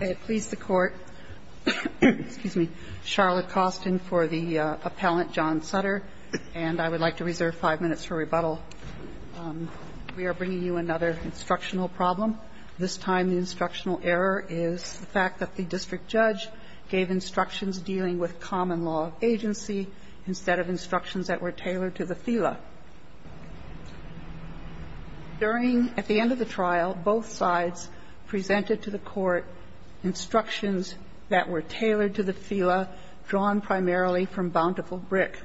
I please the Court, Charlotte Costin for the appellant John Sutter, and I would like to reserve five minutes for rebuttal. We are bringing you another instructional problem. This time the instructional error is the fact that the district judge gave instructions dealing with common law of agency instead of instructions that were tailored to the FILA, drawn primarily from Bountiful Brick.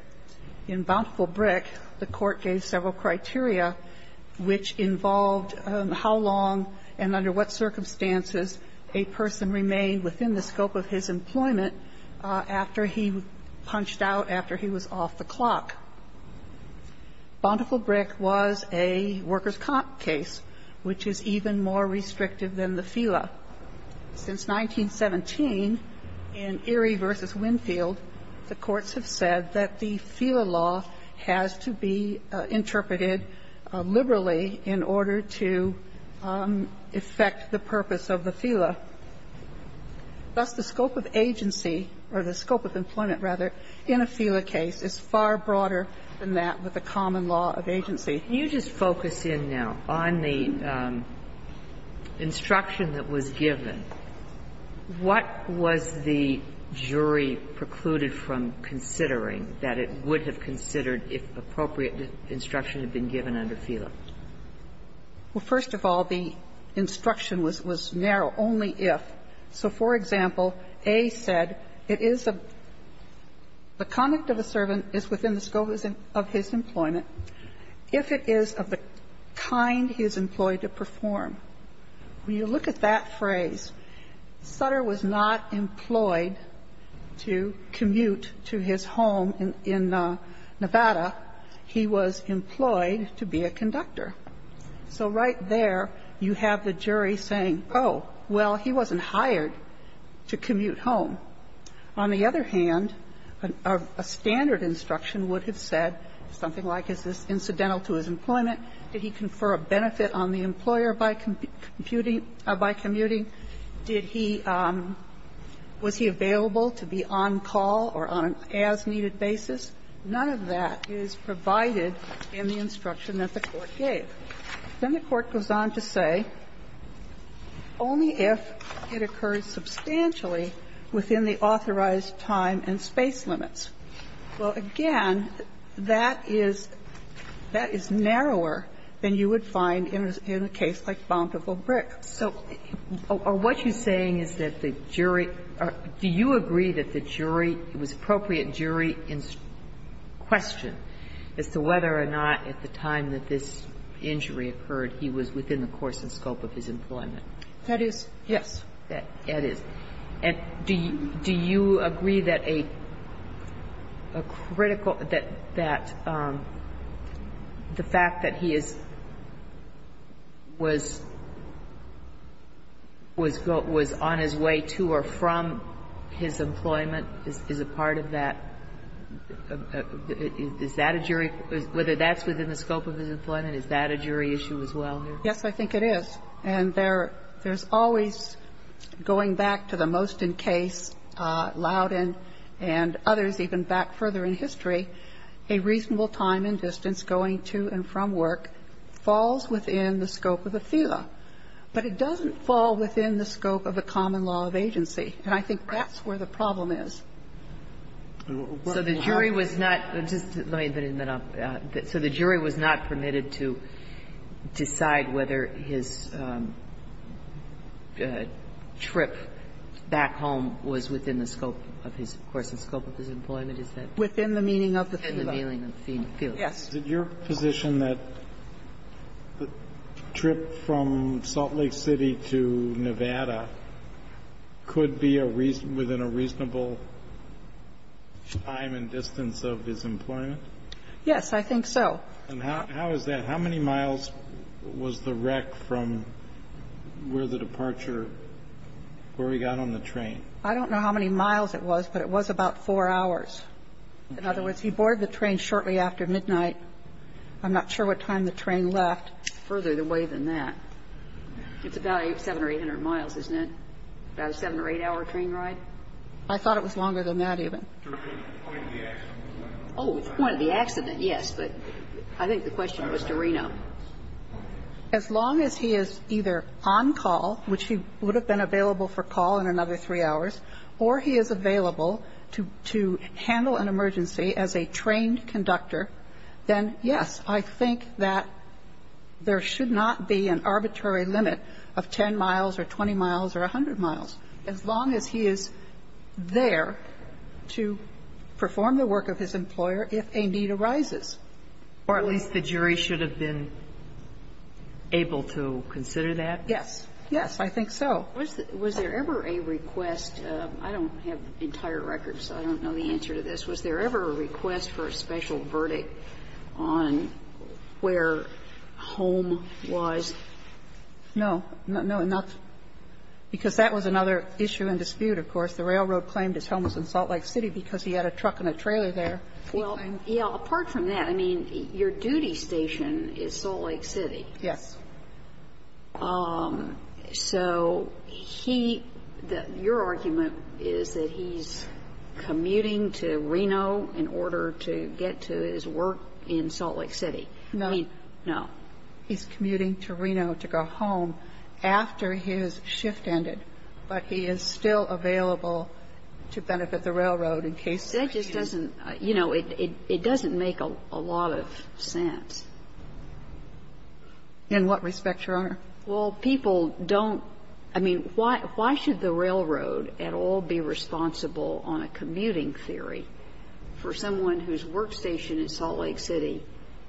In Bountiful Brick, the Court gave several criteria which involved how long and under what circumstances a person remained within the scope of his employment after he punched out, after he was off the clock. Bountiful Brick was a workers' comp case, which is even more restrictive. It's a case that's far more restrictive than the FILA. Since 1917, in Erie v. Winfield, the courts have said that the FILA law has to be interpreted liberally in order to affect the purpose of the FILA. Thus, the scope of agency, or the scope of employment, rather, in a FILA case is far broader than that with the common law of agency. Kagan, can you just focus in now on the instruction that was given? What was the jury precluded from considering that it would have considered if appropriate instruction had been given under FILA? Well, first of all, the instruction was narrow, only if. So, for example, A said it is a the conduct of a servant is within the scope of his employment if it is of the kind he is employed to perform. When you look at that phrase, Sutter was not employed to commute to his home in Nevada. He was employed to be a conductor. So right there, you have the jury saying, oh, well, he wasn't hired to commute home. On the other hand, a standard instruction would have said something like, is this incidental to his employment? Did he confer a benefit on the employer by commuting by commuting? Did he, was he available to be on call or on an as-needed basis? None of that is provided in the instruction that the Court gave. Then the Court goes on to say, only if it occurs substantially within the authorized time and space limits. Well, again, that is, that is narrower than you would find in a case like Bountiful Brick. So what you're saying is that the jury, do you agree that the jury, it was appropriate jury in question as to whether or not at the time that this injury occurred, he was within the course and scope of his employment? That is, yes. That is. And do you agree that a critical, that the fact that he is, was, was on his way to or from his employment is a part of that? Is that a jury, whether that's within the scope of his employment, is that a jury issue as well? Yes, I think it is. And there's always, going back to the Moston case, Loudon and others even back further in history, a reasonable time and distance going to and from work falls within the scope of a FILA. But it doesn't fall within the scope of a common law of agency. And I think that's where the problem is. So the jury was not, just let me, so the jury was not permitted to decide whether his trip back home was within the scope of his, of course, the scope of his employment, is that? Within the meaning of the FILA. Within the meaning of the FILA. Yes. Did your position that the trip from Salt Lake City to Nevada could be a reason, within a reasonable time and distance of his employment? Yes, I think so. And how is that? How many miles was the wreck from where the departure, where he got on the train? I don't know how many miles it was, but it was about four hours. In other words, he boarded the train shortly after midnight. I'm not sure what time the train left. Further away than that. It's about 700 or 800 miles, isn't it? About a seven or eight-hour train ride? I thought it was longer than that even. Oh, the point of the accident, yes. But I think the question was to Reno. As long as he is either on call, which he would have been available for call in another three hours, or he is available to handle an emergency as a trained conductor, then, yes, I think that there should not be an arbitrary limit of 10 miles or 20 miles or 100 miles, as long as he is there to perform the work of his employer if a need arises. Or at least the jury should have been able to consider that? Yes. Yes, I think so. Was there ever a request? I don't have entire records, so I don't know the answer to this. Was there ever a request for a special verdict on where Holm was? No. No, not to me, because that was another issue and dispute, of course. The railroad claimed his home was in Salt Lake City because he had a truck and a trailer there. Well, yes, apart from that, I mean, your duty station is Salt Lake City. Yes. So he ñ your argument is that he's commuting to Reno in order to get to his work in Salt Lake City. No. No. He's commuting to Reno to go home after his shift ended, but he is still available to benefit the railroad in case there is a need. That just doesn't ñ you know, it doesn't make a lot of sense. In what respect, Your Honor? Well, people don't ñ I mean, why should the railroad at all be responsible on a commuting theory for someone whose workstation is Salt Lake City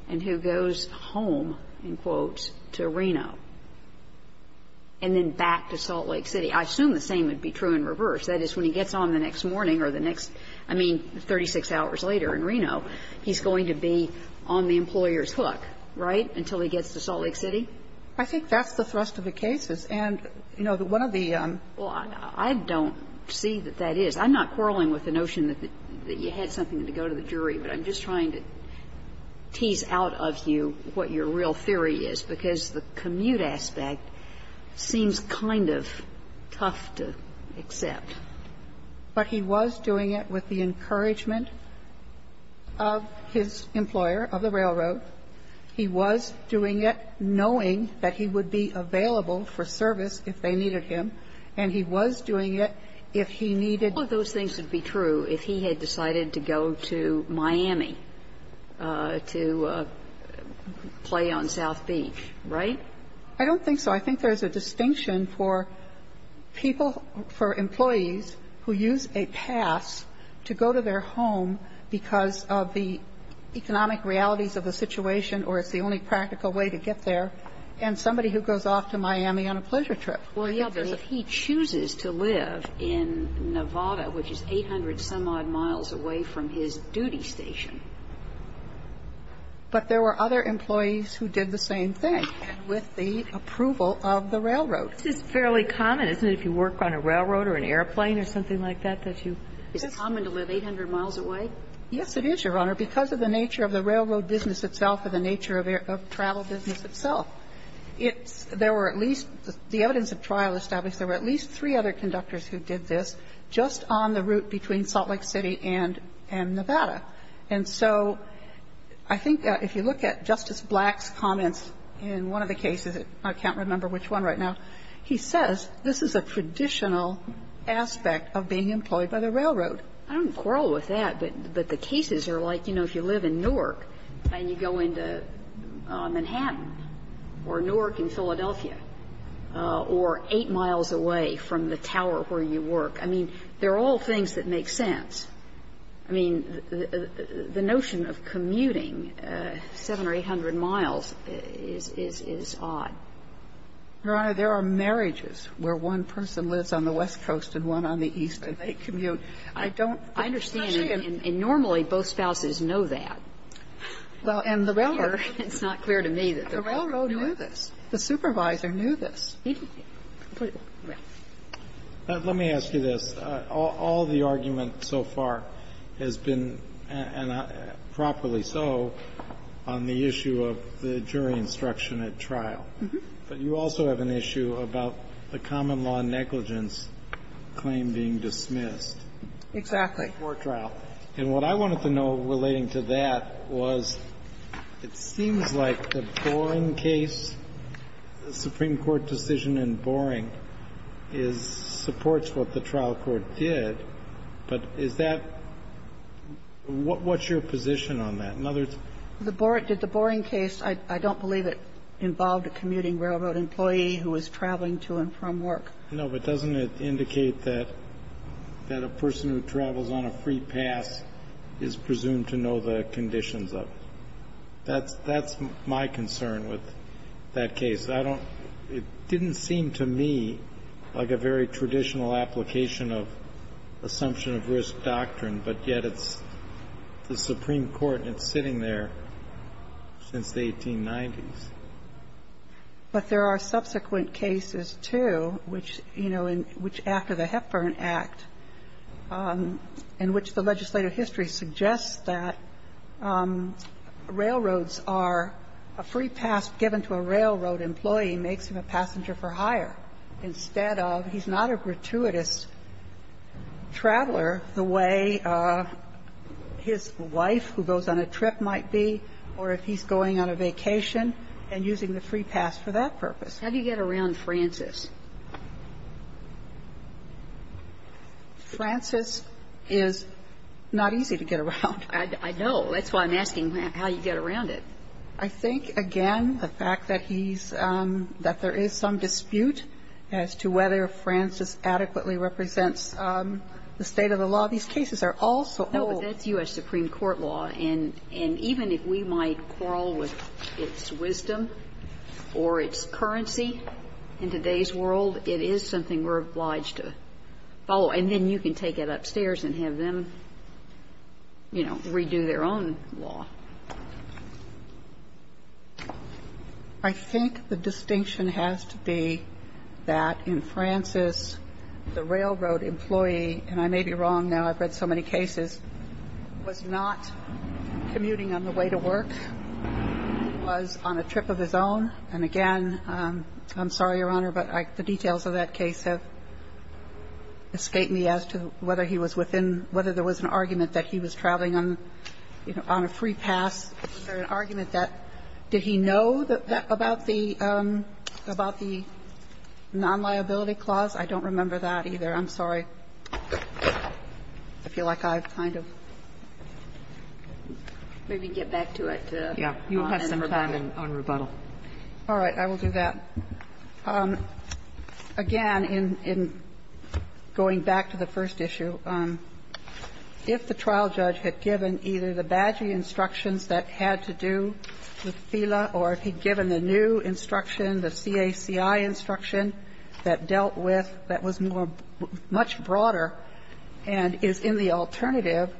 and who goes home, in quotes, to Reno and then back to Salt Lake City? I assume the same would be true in reverse. That is, when he gets on the next morning or the next ñ I mean, 36 hours later in Reno, he's going to be on the employer's hook, right, until he gets to Salt Lake City? I think that's the thrust of the cases. And, you know, one of the ñ Well, I don't see that that is. I'm not quarreling with the notion that you had something to go to the jury, but I'm just trying to tease out of you what your real theory is, because the commute aspect seems kind of tough to accept. But he was doing it with the encouragement of his employer, of the railroad. He was doing it knowing that he would be available for service if they needed him, and he was doing it if he needed ñ All of those things would be true if he had decided to go to Miami to play on South Beach, right? I don't think so. I think there is a distinction for people ñ for employees who use a pass to go to their home because of the economic realities of the situation, or it's the only practical way to get there, and somebody who goes off to Miami on a pleasure trip. Well, yeah, but if he chooses to live in Nevada, which is 800-some-odd miles away from his duty station ñ But there were other employees who did the same thing with the approval of the railroad. This is fairly common, isn't it, if you work on a railroad or an airplane or something like that, that you ñ Is it common to live 800 miles away? Yes, it is, Your Honor, because of the nature of the railroad business itself and the nature of travel business itself. It's ñ there were at least ñ the evidence of trial established there were at least three other conductors who did this just on the route between Salt Lake City and Nevada. And so I think if you look at Justice Black's comments in one of the cases ñ I can't remember which one right now ñ he says this is a traditional aspect of being employed by the railroad. I don't quarrel with that, but the cases are like, you know, if you live in Newark and you go into Manhattan or Newark in Philadelphia or 8 miles away from the tower where you work. I mean, they're all things that make sense. I mean, the notion of commuting 700 or 800 miles is odd. Your Honor, there are marriages where one person lives on the west coast and one on the east, and they commute. I don't ñ I understand. And normally, both spouses know that. Well, and the railroad ñ It's not clear to me that the railroad knew this. The supervisor knew this. He didn't. Completely. Yes. Let me ask you this. All the argument so far has been, and properly so, on the issue of the jury instruction at trial. But you also have an issue about the common law negligence claim being dismissed. Exactly. Before trial. And what I wanted to know relating to that was it seems like the Boren case, the Supreme Court decision in Boren is ñ supports what the trial court did, but is that ñ what's your position on that? In other words, the Boren ñ did the Boren case ñ I don't believe it involved a commuting railroad employee who was traveling to and from work. No. But doesn't it indicate that a person who travels on a free pass is presumed to know the conditions of it? That's my concern with that case. I don't ñ it didn't seem to me like a very traditional application of assumption of risk doctrine, but yet it's the Supreme Court and it's sitting there since the 1890s. But there are subsequent cases, too, which, you know, in ñ which after the Hepburn Act, in which the legislative history suggests that railroads are a free pass given to a railroad employee makes him a passenger for hire instead of ñ he's not a gratuitous traveler the way his wife, who goes on a trip, might be, or if he's going on a vacation and using the free pass for that purpose. How do you get around Francis? Francis is not easy to get around. I know. That's why I'm asking how you get around it. I think, again, the fact that he's ñ that there is some dispute as to whether Francis adequately represents the state of the law. These cases are also old. No, but that's U.S. Supreme Court law. And even if we might quarrel with its wisdom or its currency in today's world, it is something we're obliged to follow. And then you can take it upstairs and have them, you know, redo their own law. I think the distinction has to be that in Francis, the railroad employee ñ and I may be wrong now. I've read so many cases ñ was not commuting on the way to work, was on a trip of his own. And, again, I'm sorry, Your Honor, but the details of that case have escaped me as to whether he was within ñ whether there was an argument that he was traveling on, you know, on a free pass. Was there an argument that ñ did he know about the ñ about the non-liability clause? I don't remember that either. I'm sorry. I feel like I've kind of ñ Maybe get back to it to ñ Yeah. You have some time on rebuttal. All right. I will do that. Again, in ñ in going back to the first issue, if the trial judge had given either the badgery instructions that had to do with FILA or if he'd given the new instruction, the CACI instruction that dealt with ñ that was more ñ much broader and is in the alternative,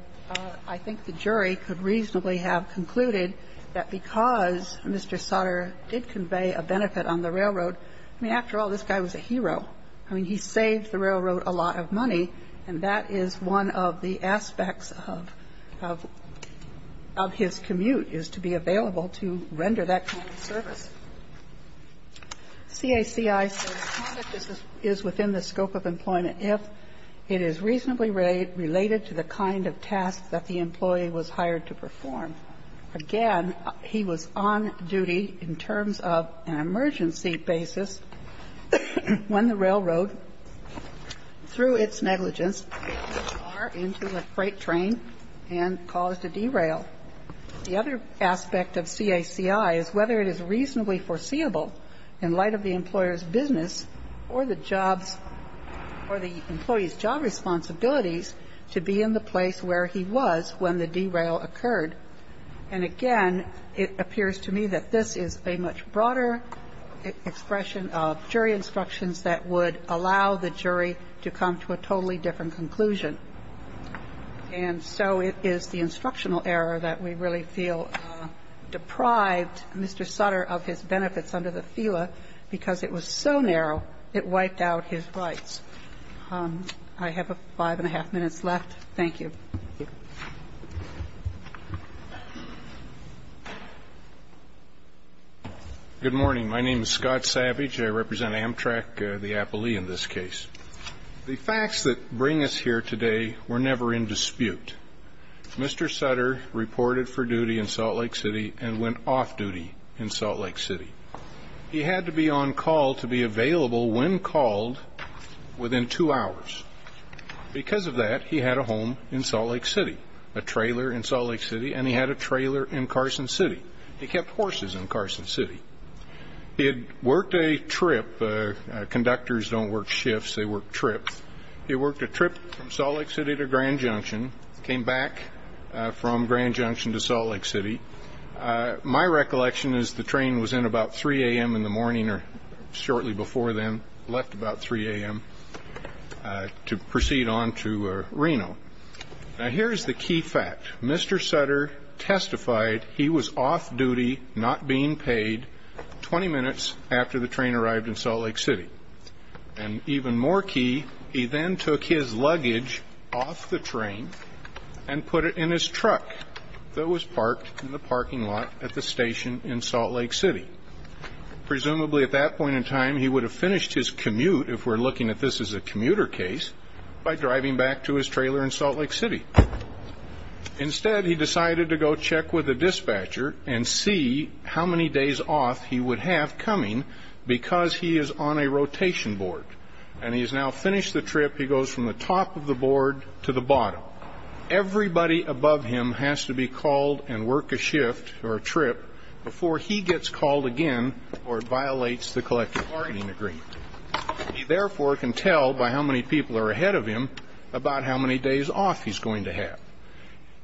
I think the jury could reasonably have concluded that because Mr. Sutter did convey a benefit on the railroad, I mean, after all, this guy was a hero. I mean, he saved the railroad a lot of money, and that is one of the aspects of ñ of his commute, is to be available to render that kind of service. CACI says, ìConduct is within the scope of employment if it is reasonably related to the kind of task that the employee was hired to perform. Again, he was on duty in terms of an emergency basis when the railroad, through its negligence, went too far into a freight train and caused a derail. The other aspect of CACI is whether it is reasonably foreseeable in light of the employer's business or the jobís ñ or the employeeís job responsibilities to be in the place where he was when the derail occurred. And again, it appears to me that this is a much broader expression of jury instructions that would allow the jury to come to a totally different conclusion. And so it is the instructional error that we really feel deprived Mr. Sutter of his benefits under the FILA because it was so narrow it wiped out his rights. I have five and a half minutes left. Thank you. MR. SAVAGE. Good morning. My name is Scott Savage. I represent Amtrak, the appellee in this case. The facts that bring us here today were never in dispute. Mr. Sutter reported for duty in Salt Lake City and went off duty in Salt Lake City. He had to be on call to be available when called within two hours. Because of that, he had a home in Salt Lake City, a trailer in Salt Lake City, and he had a trailer in Carson City. He kept horses in Carson City. He had worked a trip ñ conductors donít work shifts, they work trips. He worked a trip from Salt Lake City to Grand Junction, came back from Grand Junction to Salt Lake City. My recollection is the train was in about 3 a.m. in the morning or shortly before then, left about 3 a.m., to proceed on to Reno. Now, hereís the key fact. Mr. Sutter testified he was off duty, not being paid, 20 minutes after the train arrived in Salt Lake City. And even more key, he then took his luggage off the train and put it in his truck that was parked in the parking lot at the station in Salt Lake City. Presumably at that point in time, he would have finished his commute, if weíre looking at this as a commuter case, by driving back to his trailer in Salt Lake City. Instead, he decided to go check with the dispatcher and see how many days off he would have coming because he is on a rotation board. And he has now finished the trip, he goes from the top of the board to the bottom. Now, everybody above him has to be called and work a shift or a trip before he gets called again or violates the collective bargaining agreement. He therefore can tell by how many people are ahead of him about how many days off heís going to have.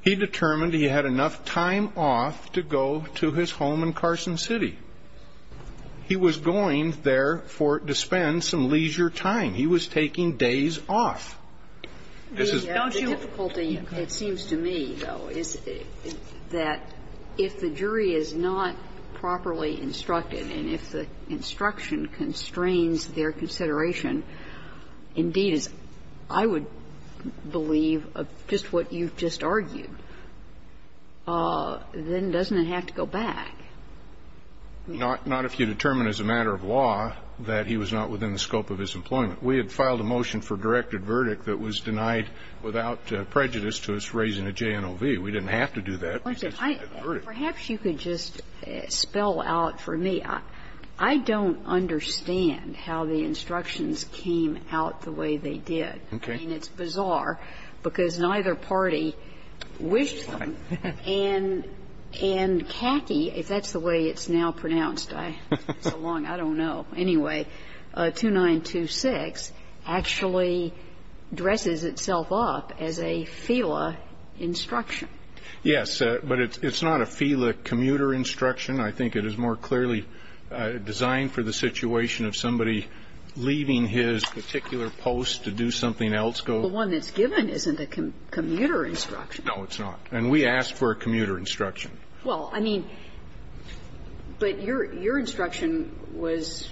He determined he had enough time off to go to his home in Carson City. He was going there to spend some leisure time. He was taking days off. This isó Donít youó The difficulty, it seems to me, though, is that if the jury is not properly instructed and if the instruction constrains their consideration, indeed, as I would believe of just what youíve just argued, then doesnít it have to go back? Not if you determine as a matter of law that he was not within the scope of his employment. We had filed a motion for directed verdict that was denied without prejudice to us raising a JNOV. We didnít have to do that because we had a verdict. Perhaps you could just spell out for me. I donít understand how the instructions came out the way they did. Okay. I mean, itís bizarre because neither party wished them. And CACI, if thatís the way itís now pronounced, itís been so long, I donít know. Anyway, 2926 actually dresses itself up as a FILA instruction. Yes, but itís not a FILA commuter instruction. I think it is more clearly designed for the situation of somebody leaving his particular post to do something else. The one thatís given isnít a commuter instruction. No, itís not. And we asked for a commuter instruction. Well, I mean, but your instruction was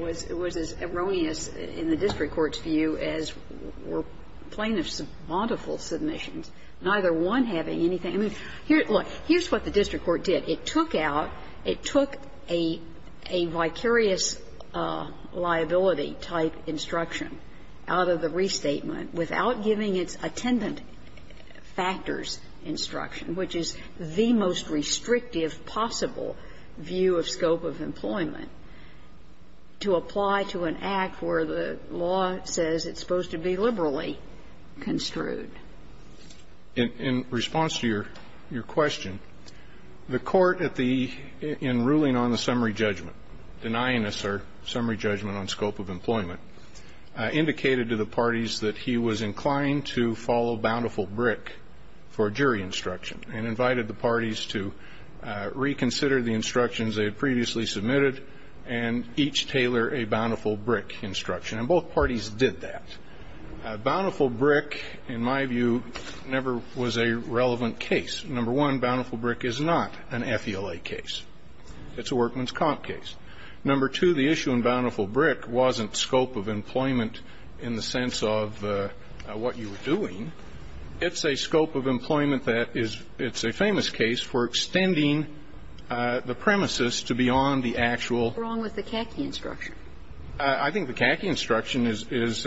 as erroneous in the district courtís view as were plaintiffsí modifical submissions, neither one having anything. I mean, hereís what the district court did. It took out ñ it took a vicarious liability-type instruction out of the restatement without giving its attendant factors instruction, which is the most restrictive possible view of scope of employment, to apply to an act where the law says itís supposed to be liberally construed. In response to your question, the Court at the ñ in ruling on the summary judgment, denying us our summary judgment on scope of employment, indicated to the parties that he was inclined to follow Bountiful Brick for jury instruction and invited the parties to reconsider the instructions they had previously submitted and each tailor a Bountiful Brick instruction. And both parties did that. Bountiful Brick, in my view, never was a relevant case. Number one, Bountiful Brick is not an FILA case. Itís a workmanís comp case. Number two, the issue in Bountiful Brick wasnít scope of employment in the sense of what you were doing. Itís a scope of employment that is ñ itís a famous case for extending the premises to beyond the actual ñ Whatís wrong with the CACI instruction? I think the CACI instruction is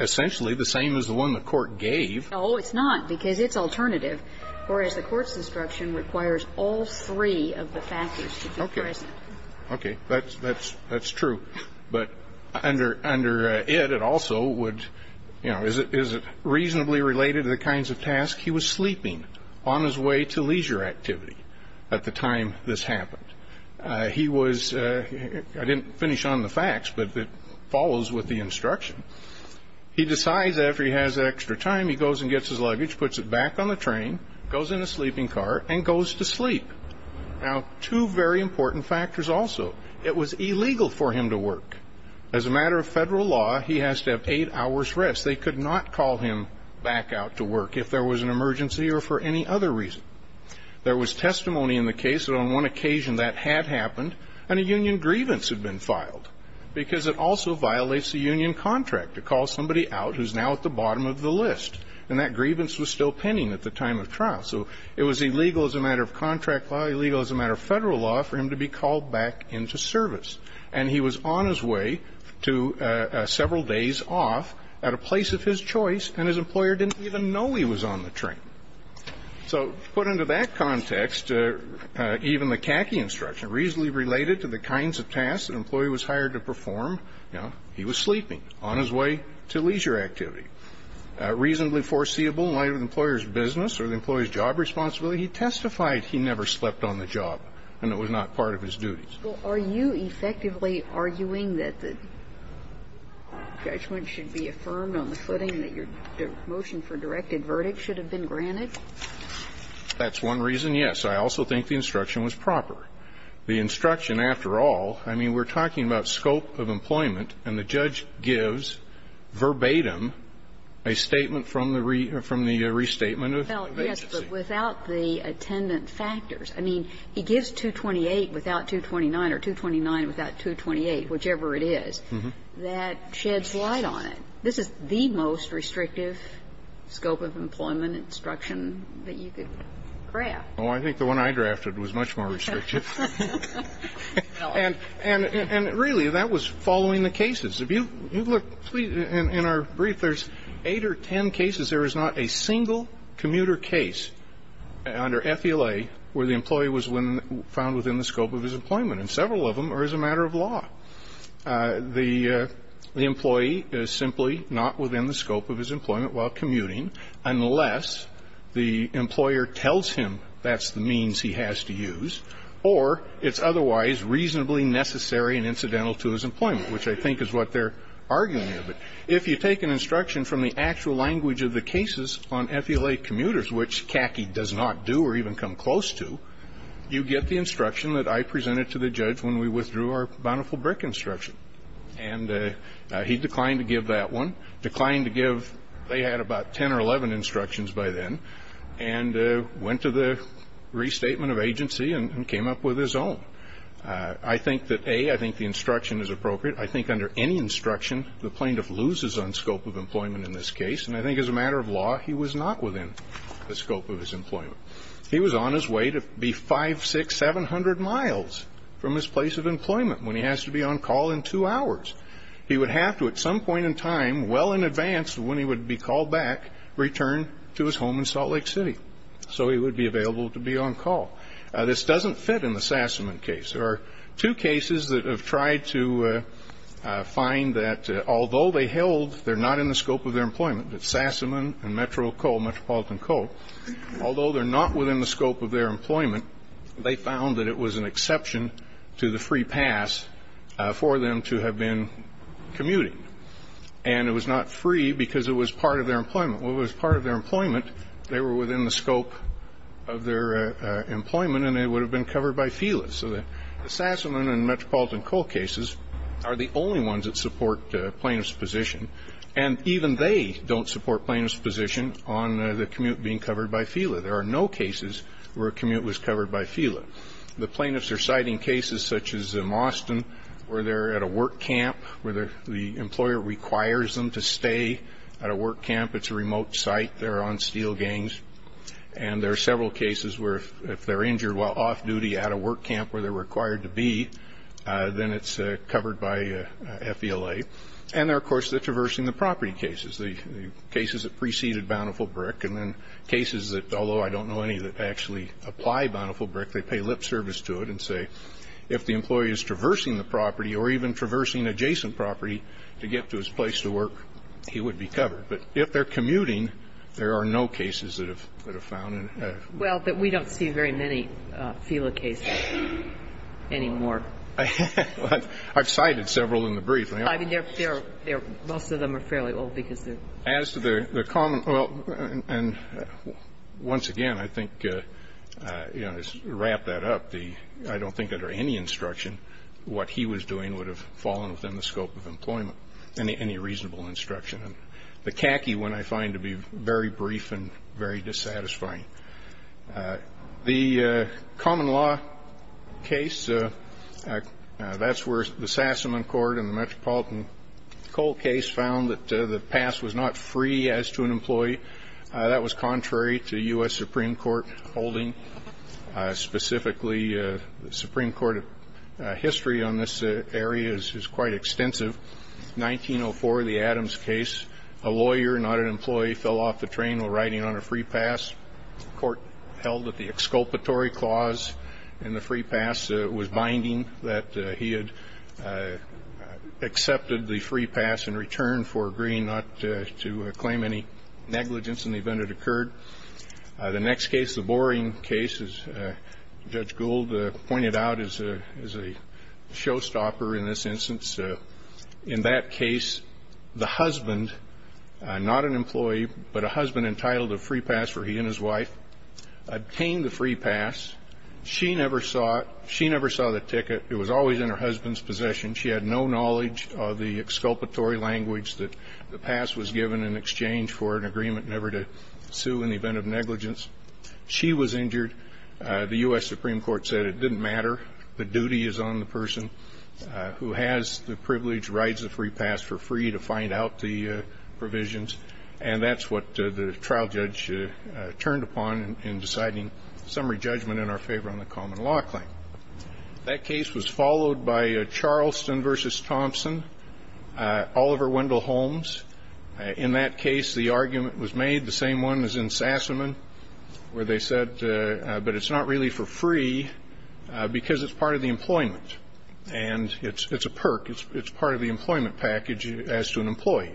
essentially the same as the one the Court gave. The CACI instruction requires all three of the factors to be present. Okay. Okay. Thatís true. But under it, it also would ñ you know, is it reasonably related to the kinds of tasks he was sleeping on his way to leisure activity at the time this happened? He was ñ I didnít finish on the facts, but it follows with the instruction. He decides that after he has extra time, he goes and gets his luggage, puts it back on the train, goes in the sleeping car, and goes to sleep. Now, two very important factors also. It was illegal for him to work. As a matter of Federal law, he has to have eight hoursí rest. They could not call him back out to work if there was an emergency or for any other reason. There was testimony in the case that on one occasion that had happened and a union grievance had been filed because it also violates the union contract to call somebody out whoís now at the bottom of the list, and that grievance was still pending at the time of trial. So it was illegal as a matter of contract law, illegal as a matter of Federal law for him to be called back into service. And he was on his way to several days off at a place of his choice, and his employer didnít even know he was on the train. So put under that context, even the CACI instruction, reasonably related to the kinds of tasks that an employee was hired to perform, you know, he was sleeping on his way to leisure activity. Reasonably foreseeable in light of the employerís business or the employeeís job responsibility, he testified he never slept on the job, and it was not part of his duties. Well, are you effectively arguing that the judgment should be affirmed on the footing that your motion for directed verdict should have been granted? Thatís one reason, yes. I also think the instruction was proper. The instruction, after all, I mean, weíre talking about scope of employment, and the judge gives verbatim a statement from the restatement of agency. Well, yes, but without the attendant factors. I mean, he gives 228 without 229 or 229 without 228, whichever it is, that sheds light on it. This is the most restrictive scope of employment instruction that you could draft. Well, I think the one I drafted was much more restrictive. And really, that was following the cases. If you look, in our brief, thereís eight or ten cases. There is not a single commuter case under FELA where the employee was found within the scope of his employment, and several of them are as a matter of law. The employee is simply not within the scope of his employment while commuting, unless the employer tells him thatís the means he has to use, or itís otherwise reasonably necessary and incidental to his employment, which I think is what theyíre arguing here. But if you take an instruction from the actual language of the cases on FELA commuters, which CACI does not do or even come close to, you get the instruction that I presented to the judge when we withdrew our Bonneville Brick instruction. And he declined to give that one. Declined to give ñ they had about ten or eleven instructions by then, and went to the restatement of agency and came up with his own. I think that, A, I think the instruction is appropriate. I think under any instruction, the plaintiff loses on scope of employment in this case. And I think as a matter of law, he was not within the scope of his employment. He was on his way to be 5, 600, 700 miles from his place of employment when he has to be on call in two hours. He would have to, at some point in time, well in advance of when he would be called back, return to his home in Salt Lake City so he would be available to be on call. This doesnít fit in the Sassamon case. There are two cases that have tried to find that although they held theyíre not in the scope of their employment, that Sassamon and Metro Coal, Metropolitan Coal, although theyíre not within the scope of their employment, they found that it was an exception to the free pass for them to have been commuting. And it was not free because it was part of their employment. Well, if it was part of their employment, they were within the scope of their employment and they would have been covered by FELA. So the Sassamon and Metropolitan Coal cases are the only ones that support plaintiffís position. And even they donít support plaintiffís position on the commute being covered by FELA. There are no cases where a commute was covered by FELA. The plaintiffs are citing cases such as in Austin where theyíre at a work camp where the employer requires them to stay at a work camp. Itís a remote site. Theyíre on steel gangs. And there are several cases where if theyíre injured while off duty at a work camp where theyíre required to be, then itís covered by FELA. And there are, of course, the Traversing the Property cases, the cases that preceded Bountiful Brick. And then cases that, although I donít know any that actually apply Bountiful Brick, they pay lip service to it and say if the employee is Traversing the Property or even Traversing Adjacent Property to get to his place to work, he would be covered. But if theyíre commuting, there are no cases that are found. Well, but we donít see very many FELA cases anymore. Iíve cited several in the brief. I mean, theyíre, most of them are fairly old because theyíre As to the common, well, and once again, I think, you know, to wrap that up, the, I donít think under any instruction what he was doing would have fallen within the scope of employment, any reasonable instruction. The khaki one I find to be very brief and very dissatisfying. The common law case, thatís where the Sassaman Court and the Metropolitan Coal case found that the pass was not free as to an employee. That was contrary to U.S. Supreme Court holding, specifically, the Supreme Court history on this area is quite extensive. 1904, the Adams case, a lawyer, not an employee, fell off the train while riding on a free pass. Court held that the exculpatory clause in the free pass was binding, that he had accepted the free pass in return for agreeing not to claim any negligence in the event it occurred. The next case, the boring case, as Judge Gould pointed out, is a showstopper in this instance. In that case, the husband, not an employee, but a husband entitled to a free pass for he and his wife, obtained the free pass. She never saw it. She never saw the ticket. It was always in her husbandís possession. She had no knowledge of the exculpatory language that the pass was given in exchange for an agreement never to sue in the event of negligence. She was injured. The U.S. Supreme Court said it didnít matter. The duty is on the person who has the privilege, rides the free pass for free to find out the provisions. And thatís what the trial judge turned upon in deciding summary judgment in our favor on the common law claim. That case was followed by Charleston v. Thompson, Oliver Wendell Holmes. In that case, the argument was made, the same one as in Sassamon, where they said, but itís not really for free because itís part of the employment, and itís a perk, itís part of the employment package as to an employee.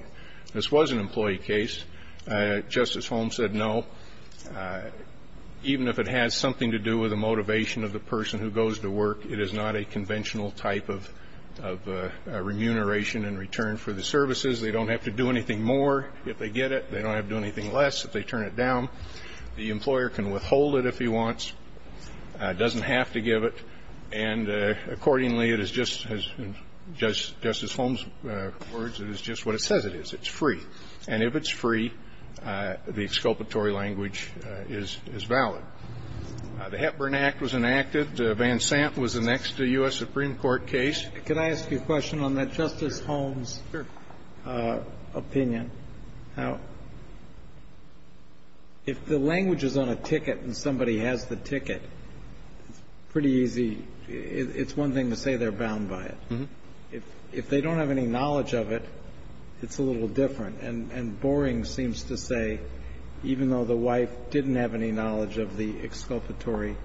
This was an employee case. Justice Holmes said no, even if it has something to do with the motivation of the person who goes to work, it is not a conventional type of remuneration in return for the services. They donít have to do anything more if they get it. They donít have to do anything less if they turn it down. The employer can withhold it if he wants, doesnít have to give it. And accordingly, it is just, in Justice Holmesí words, it is just what it says it is. Itís free. And if itís free, the exculpatory language is valid. The Hepburn Act was enacted. Van Sant was the next U.S. Supreme Court case. Could I ask you a question on that Justice Holmes opinion? Sure. How ñ if the language is on a ticket and somebody has the ticket, itís pretty easy. Itís one thing to say theyíre bound by it. If they donít have any knowledge of it, itís a little different. And boring seems to say, even though the wife didnít have any knowledge of the exculpatory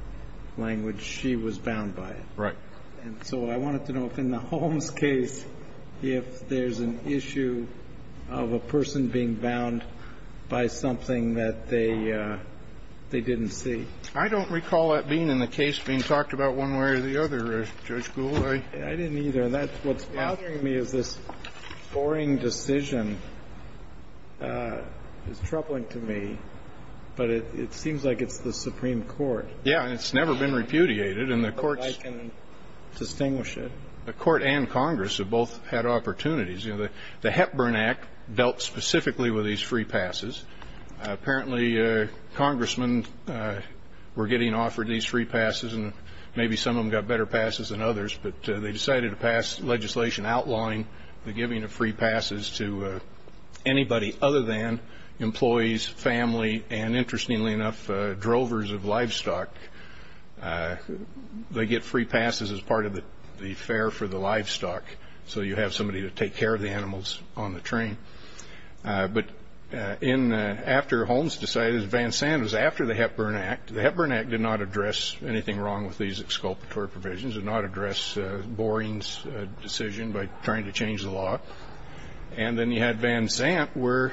language, she was bound by it. Right. And so I wanted to know if in the Holmes case, if thereís an issue of a person being bound by something that they didnít see. I donít recall that being in the case being talked about one way or the other, Judge Gould. I didnít either. And thatís whatís bothering me is this boring decision is troubling to me, but it seems like itís the Supreme Court. Yeah. And itís never been repudiated. And the courts ñ I can distinguish it. The court and Congress have both had opportunities. The Hepburn Act dealt specifically with these free passes. Apparently, congressmen were getting offered these free passes, and maybe some of them got better passes than others, but they decided to pass legislation outlawing the giving of free passes to anybody other than employees, family, and interestingly enough, drovers of livestock. They get free passes as part of the fare for the livestock, so you have somebody to take care of the animals on the train. But after Holmes decided, Van Sanden was after the Hepburn Act, the Hepburn Act did not address anything wrong with these exculpatory provisions, did not address Boringís decision by trying to change the law. And then you had Van Zandt where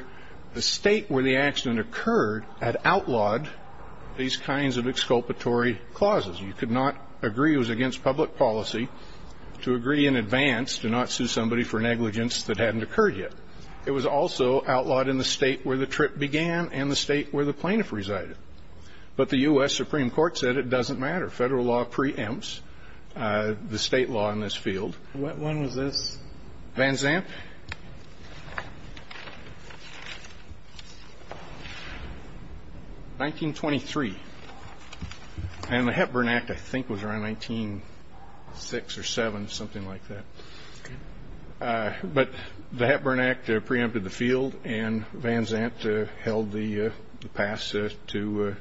the state where the accident occurred had outlawed these kinds of exculpatory clauses. You could not agree it was against public policy to agree in advance to not sue somebody for negligence that hadnít occurred yet. It was also outlawed in the state where the trip began and the state where the plaintiff resided. But the U.S. Supreme Court said it doesnít matter, federal law preempts the state law in this field. What one was this? Van Zandt, 1923, and the Hepburn Act I think was around 1906 or ë07, something like that. But the Hepburn Act preempted the field and Van Zandt held the pass to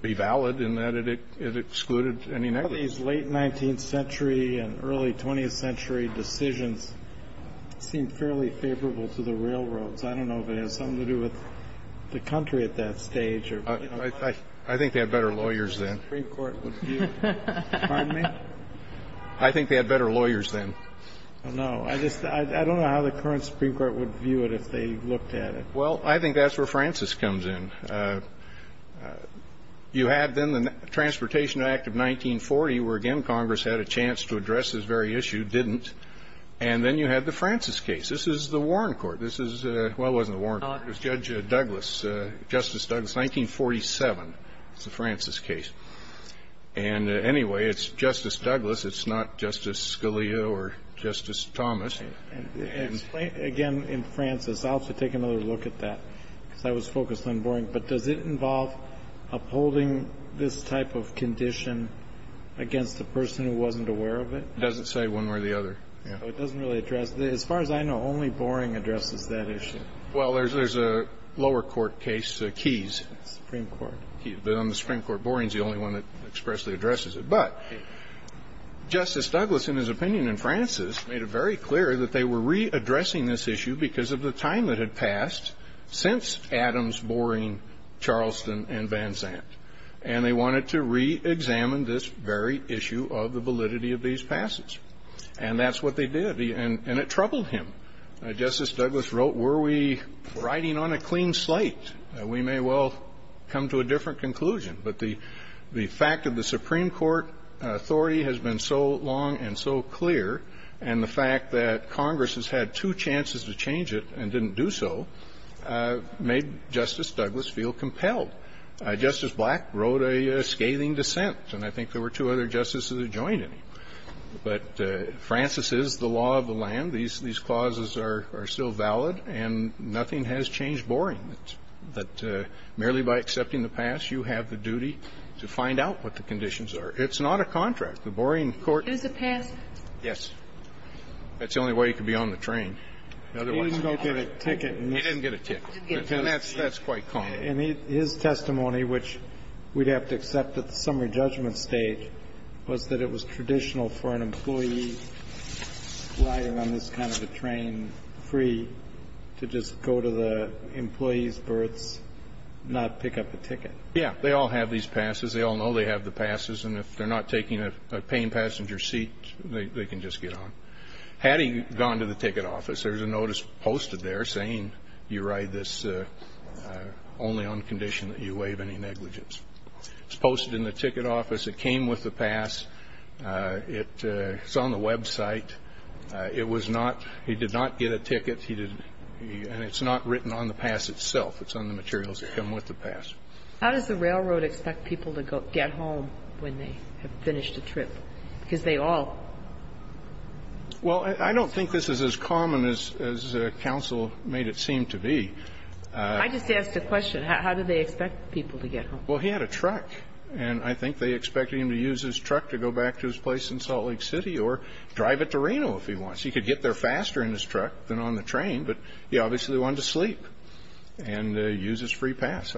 be valid in that it excluded any negligence. These late 19th century and early 20th century decisions seem fairly favorable to the railroads. I donít know if it has something to do with the country at that stage. I think they had better lawyers then. I donít know how the current Supreme Court would view it if they looked at it. Well, I think thatís where Francis comes in. You had then the Transportation Act of 1940 where, again, Congress had a chance to address this very issue, didnít, and then you had the Francis case. This is the Warren Court. This is ñ well, it wasnít the Warren Court. It was Judge Douglas, Justice Douglas, 1947. Itís the Francis case. And anyway, itís Justice Douglas. Itís not Justice Scalia or Justice Thomas. And again, in Francis, Iíll have to take another look at that because I was focused on Boring, but does it involve upholding this type of condition against a person who wasnít aware of it? It doesnít say one way or the other, yeah. It doesnít really address ñ as far as I know, only Boring addresses that issue. Well, thereís a lower court case, Keyes. Supreme Court. The Supreme Court, Boringís the only one that expressly addresses it. But Justice Douglas, in his opinion in Francis, made it very clear that they were readdressing this issue because of the time that had passed since Adams, Boring, Charleston, and Van Zandt. And they wanted to reexamine this very issue of the validity of these passes. And thatís what they did, and it troubled him. Justice Douglas wrote, were we riding on a clean slate? We may well come to a different conclusion. But the fact that the Supreme Court authority has been so long and so clear, and the fact that Congress has had two chances to change it and didnít do so, made Justice Douglas feel compelled. Justice Black wrote a scathing dissent, and I think there were two other justices who joined him. But Francis is the law of the land. These clauses are still valid, and nothing has changed Boring. But merely by accepting the pass, you have the duty to find out what the conditions are. Itís not a contract. The Boring courtó It was a pass? Yes. Thatís the only way he could be on the train. Otherwise, he didnít get a ticket. He didnít get a ticket. And thatís quite common. And his testimony, which weíd have to accept at the summary judgment stage, was that it was traditional for an employee riding on this kind of a train free to just go to the train station, and then after the employeeís birth, not pick up the ticket. Yes. They all have these passes. They all know they have the passes, and if theyíre not taking a paying passenger seat, they can just get on. Had he gone to the ticket office, thereís a notice posted there saying you ride this only on condition that you waive any negligence. Itís posted in the ticket office. It came with the pass. Itís on the website. It was notóHe did not get a ticket. And itís not written on the pass itself. Itís on the materials that come with the pass. How does the railroad expect people to get home when they have finished a trip? Because they alló Well, I donít think this is as common as counsel made it seem to be. I just asked a question. How did they expect people to get home? Well, he had a truck, and I think they expected him to use his truck to go back to his place in Salt Lake City or drive it to Reno if he wants. He could get there faster in his truck than on the train, but he obviously wanted to sleep and use his free pass.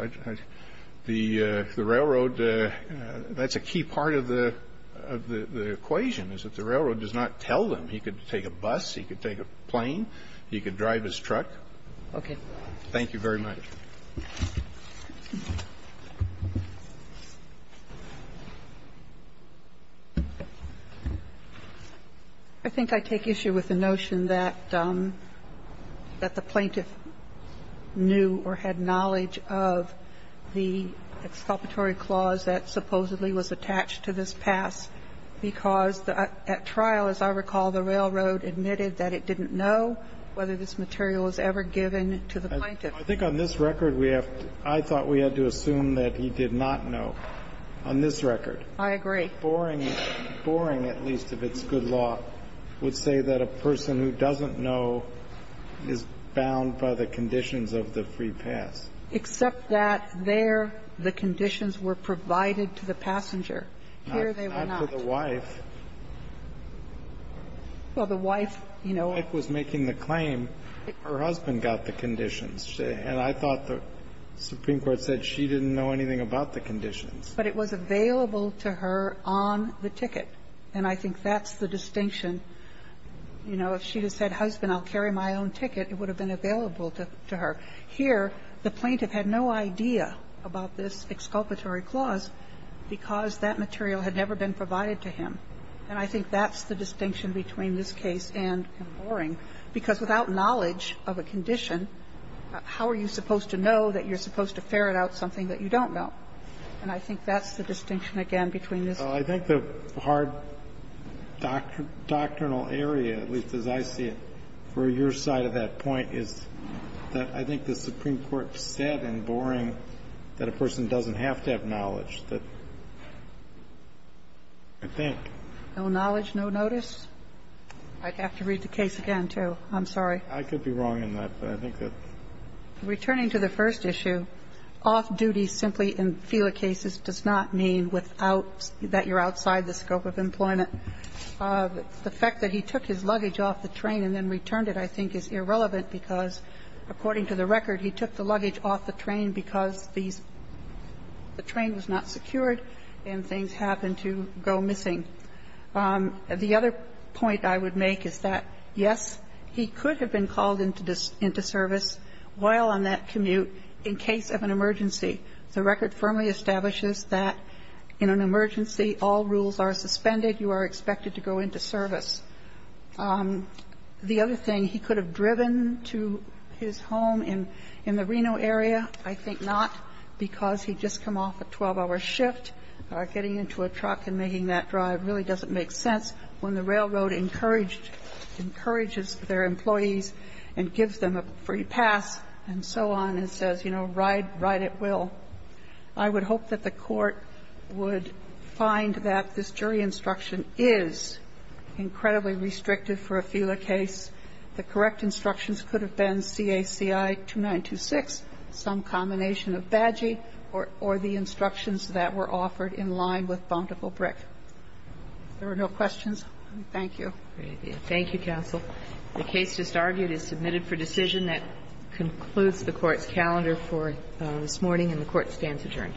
The railroadóThatís a key part of the equation is that the railroad does not tell them. He could take a bus. He could take a plane. He could drive his truck. Okay. Thank you very much. I think I take issue with the notion that the plaintiff knew or had knowledge of the exculpatory clause that supposedly was attached to this pass because at trial, as I recall, the railroad admitted that it didnít know whether this material was ever given to the plaintiff. I think on this record we have toóI thought we had to assume that he did not know. On this recordó I agree. Boring, at least, if itís good law, would say that a person who doesnít know is bound by the conditions of the free pass. Except that there the conditions were provided to the passenger. Here they were not. Not to the wife. Well, the wife, you knowó But the husband got the conditions. And I thought the Supreme Court said she didnít know anything about the conditions. But it was available to her on the ticket. And I think thatís the distinction. You know, if she had said, husband, Iíll carry my own ticket, it would have been available to her. Here the plaintiff had no idea about this exculpatory clause because that material had never been provided to him. And I think thatís the distinction between this case and Boring. Because without knowledge of a condition, how are you supposed to know that youíre supposed to ferret out something that you donít know? And I think thatís the distinction, again, between this case and Boring. I think the hard doctrinal area, at least as I see it, for your side of that point, is that I think the Supreme Court said in Boring that a person doesnít have to have knowledge, that I thinkó No knowledge, no notice? Iíd have to read the case again, too. Iím sorry. I could be wrong in that. But I think tható Returning to the first issue, ìoff dutyî simply in FELA cases does not mean without ñ that youíre outside the scope of employment. The fact that he took his luggage off the train and then returned it, I think, is irrelevant because, according to the record, he took the luggage off the train because the train was not secured and things happened to go missing. The other point I would make is that, yes, he could have been called into service while on that commute in case of an emergency. The record firmly establishes that in an emergency, all rules are suspended. You are expected to go into service. The other thing, he could have driven to his home in the Reno area. I think not, because heíd just come off a 12-hour shift, getting into a truck and making that drive really doesnít make sense when the railroad encouraged ñ encourages their employees and gives them a free pass and so on and says, you know, ìRide at will.î I would hope that the Court would find that this jury instruction is incredibly restrictive for a FELA case. The correct instructions could have been CACI 2926, some combination of badgee or the instructions that were offered in line with Bountiful Brick. If there are no questions, thank you. Thank you, counsel. The case just argued is submitted for decision. That concludes the Courtís calendar for this morning, and the Court stands adjourned.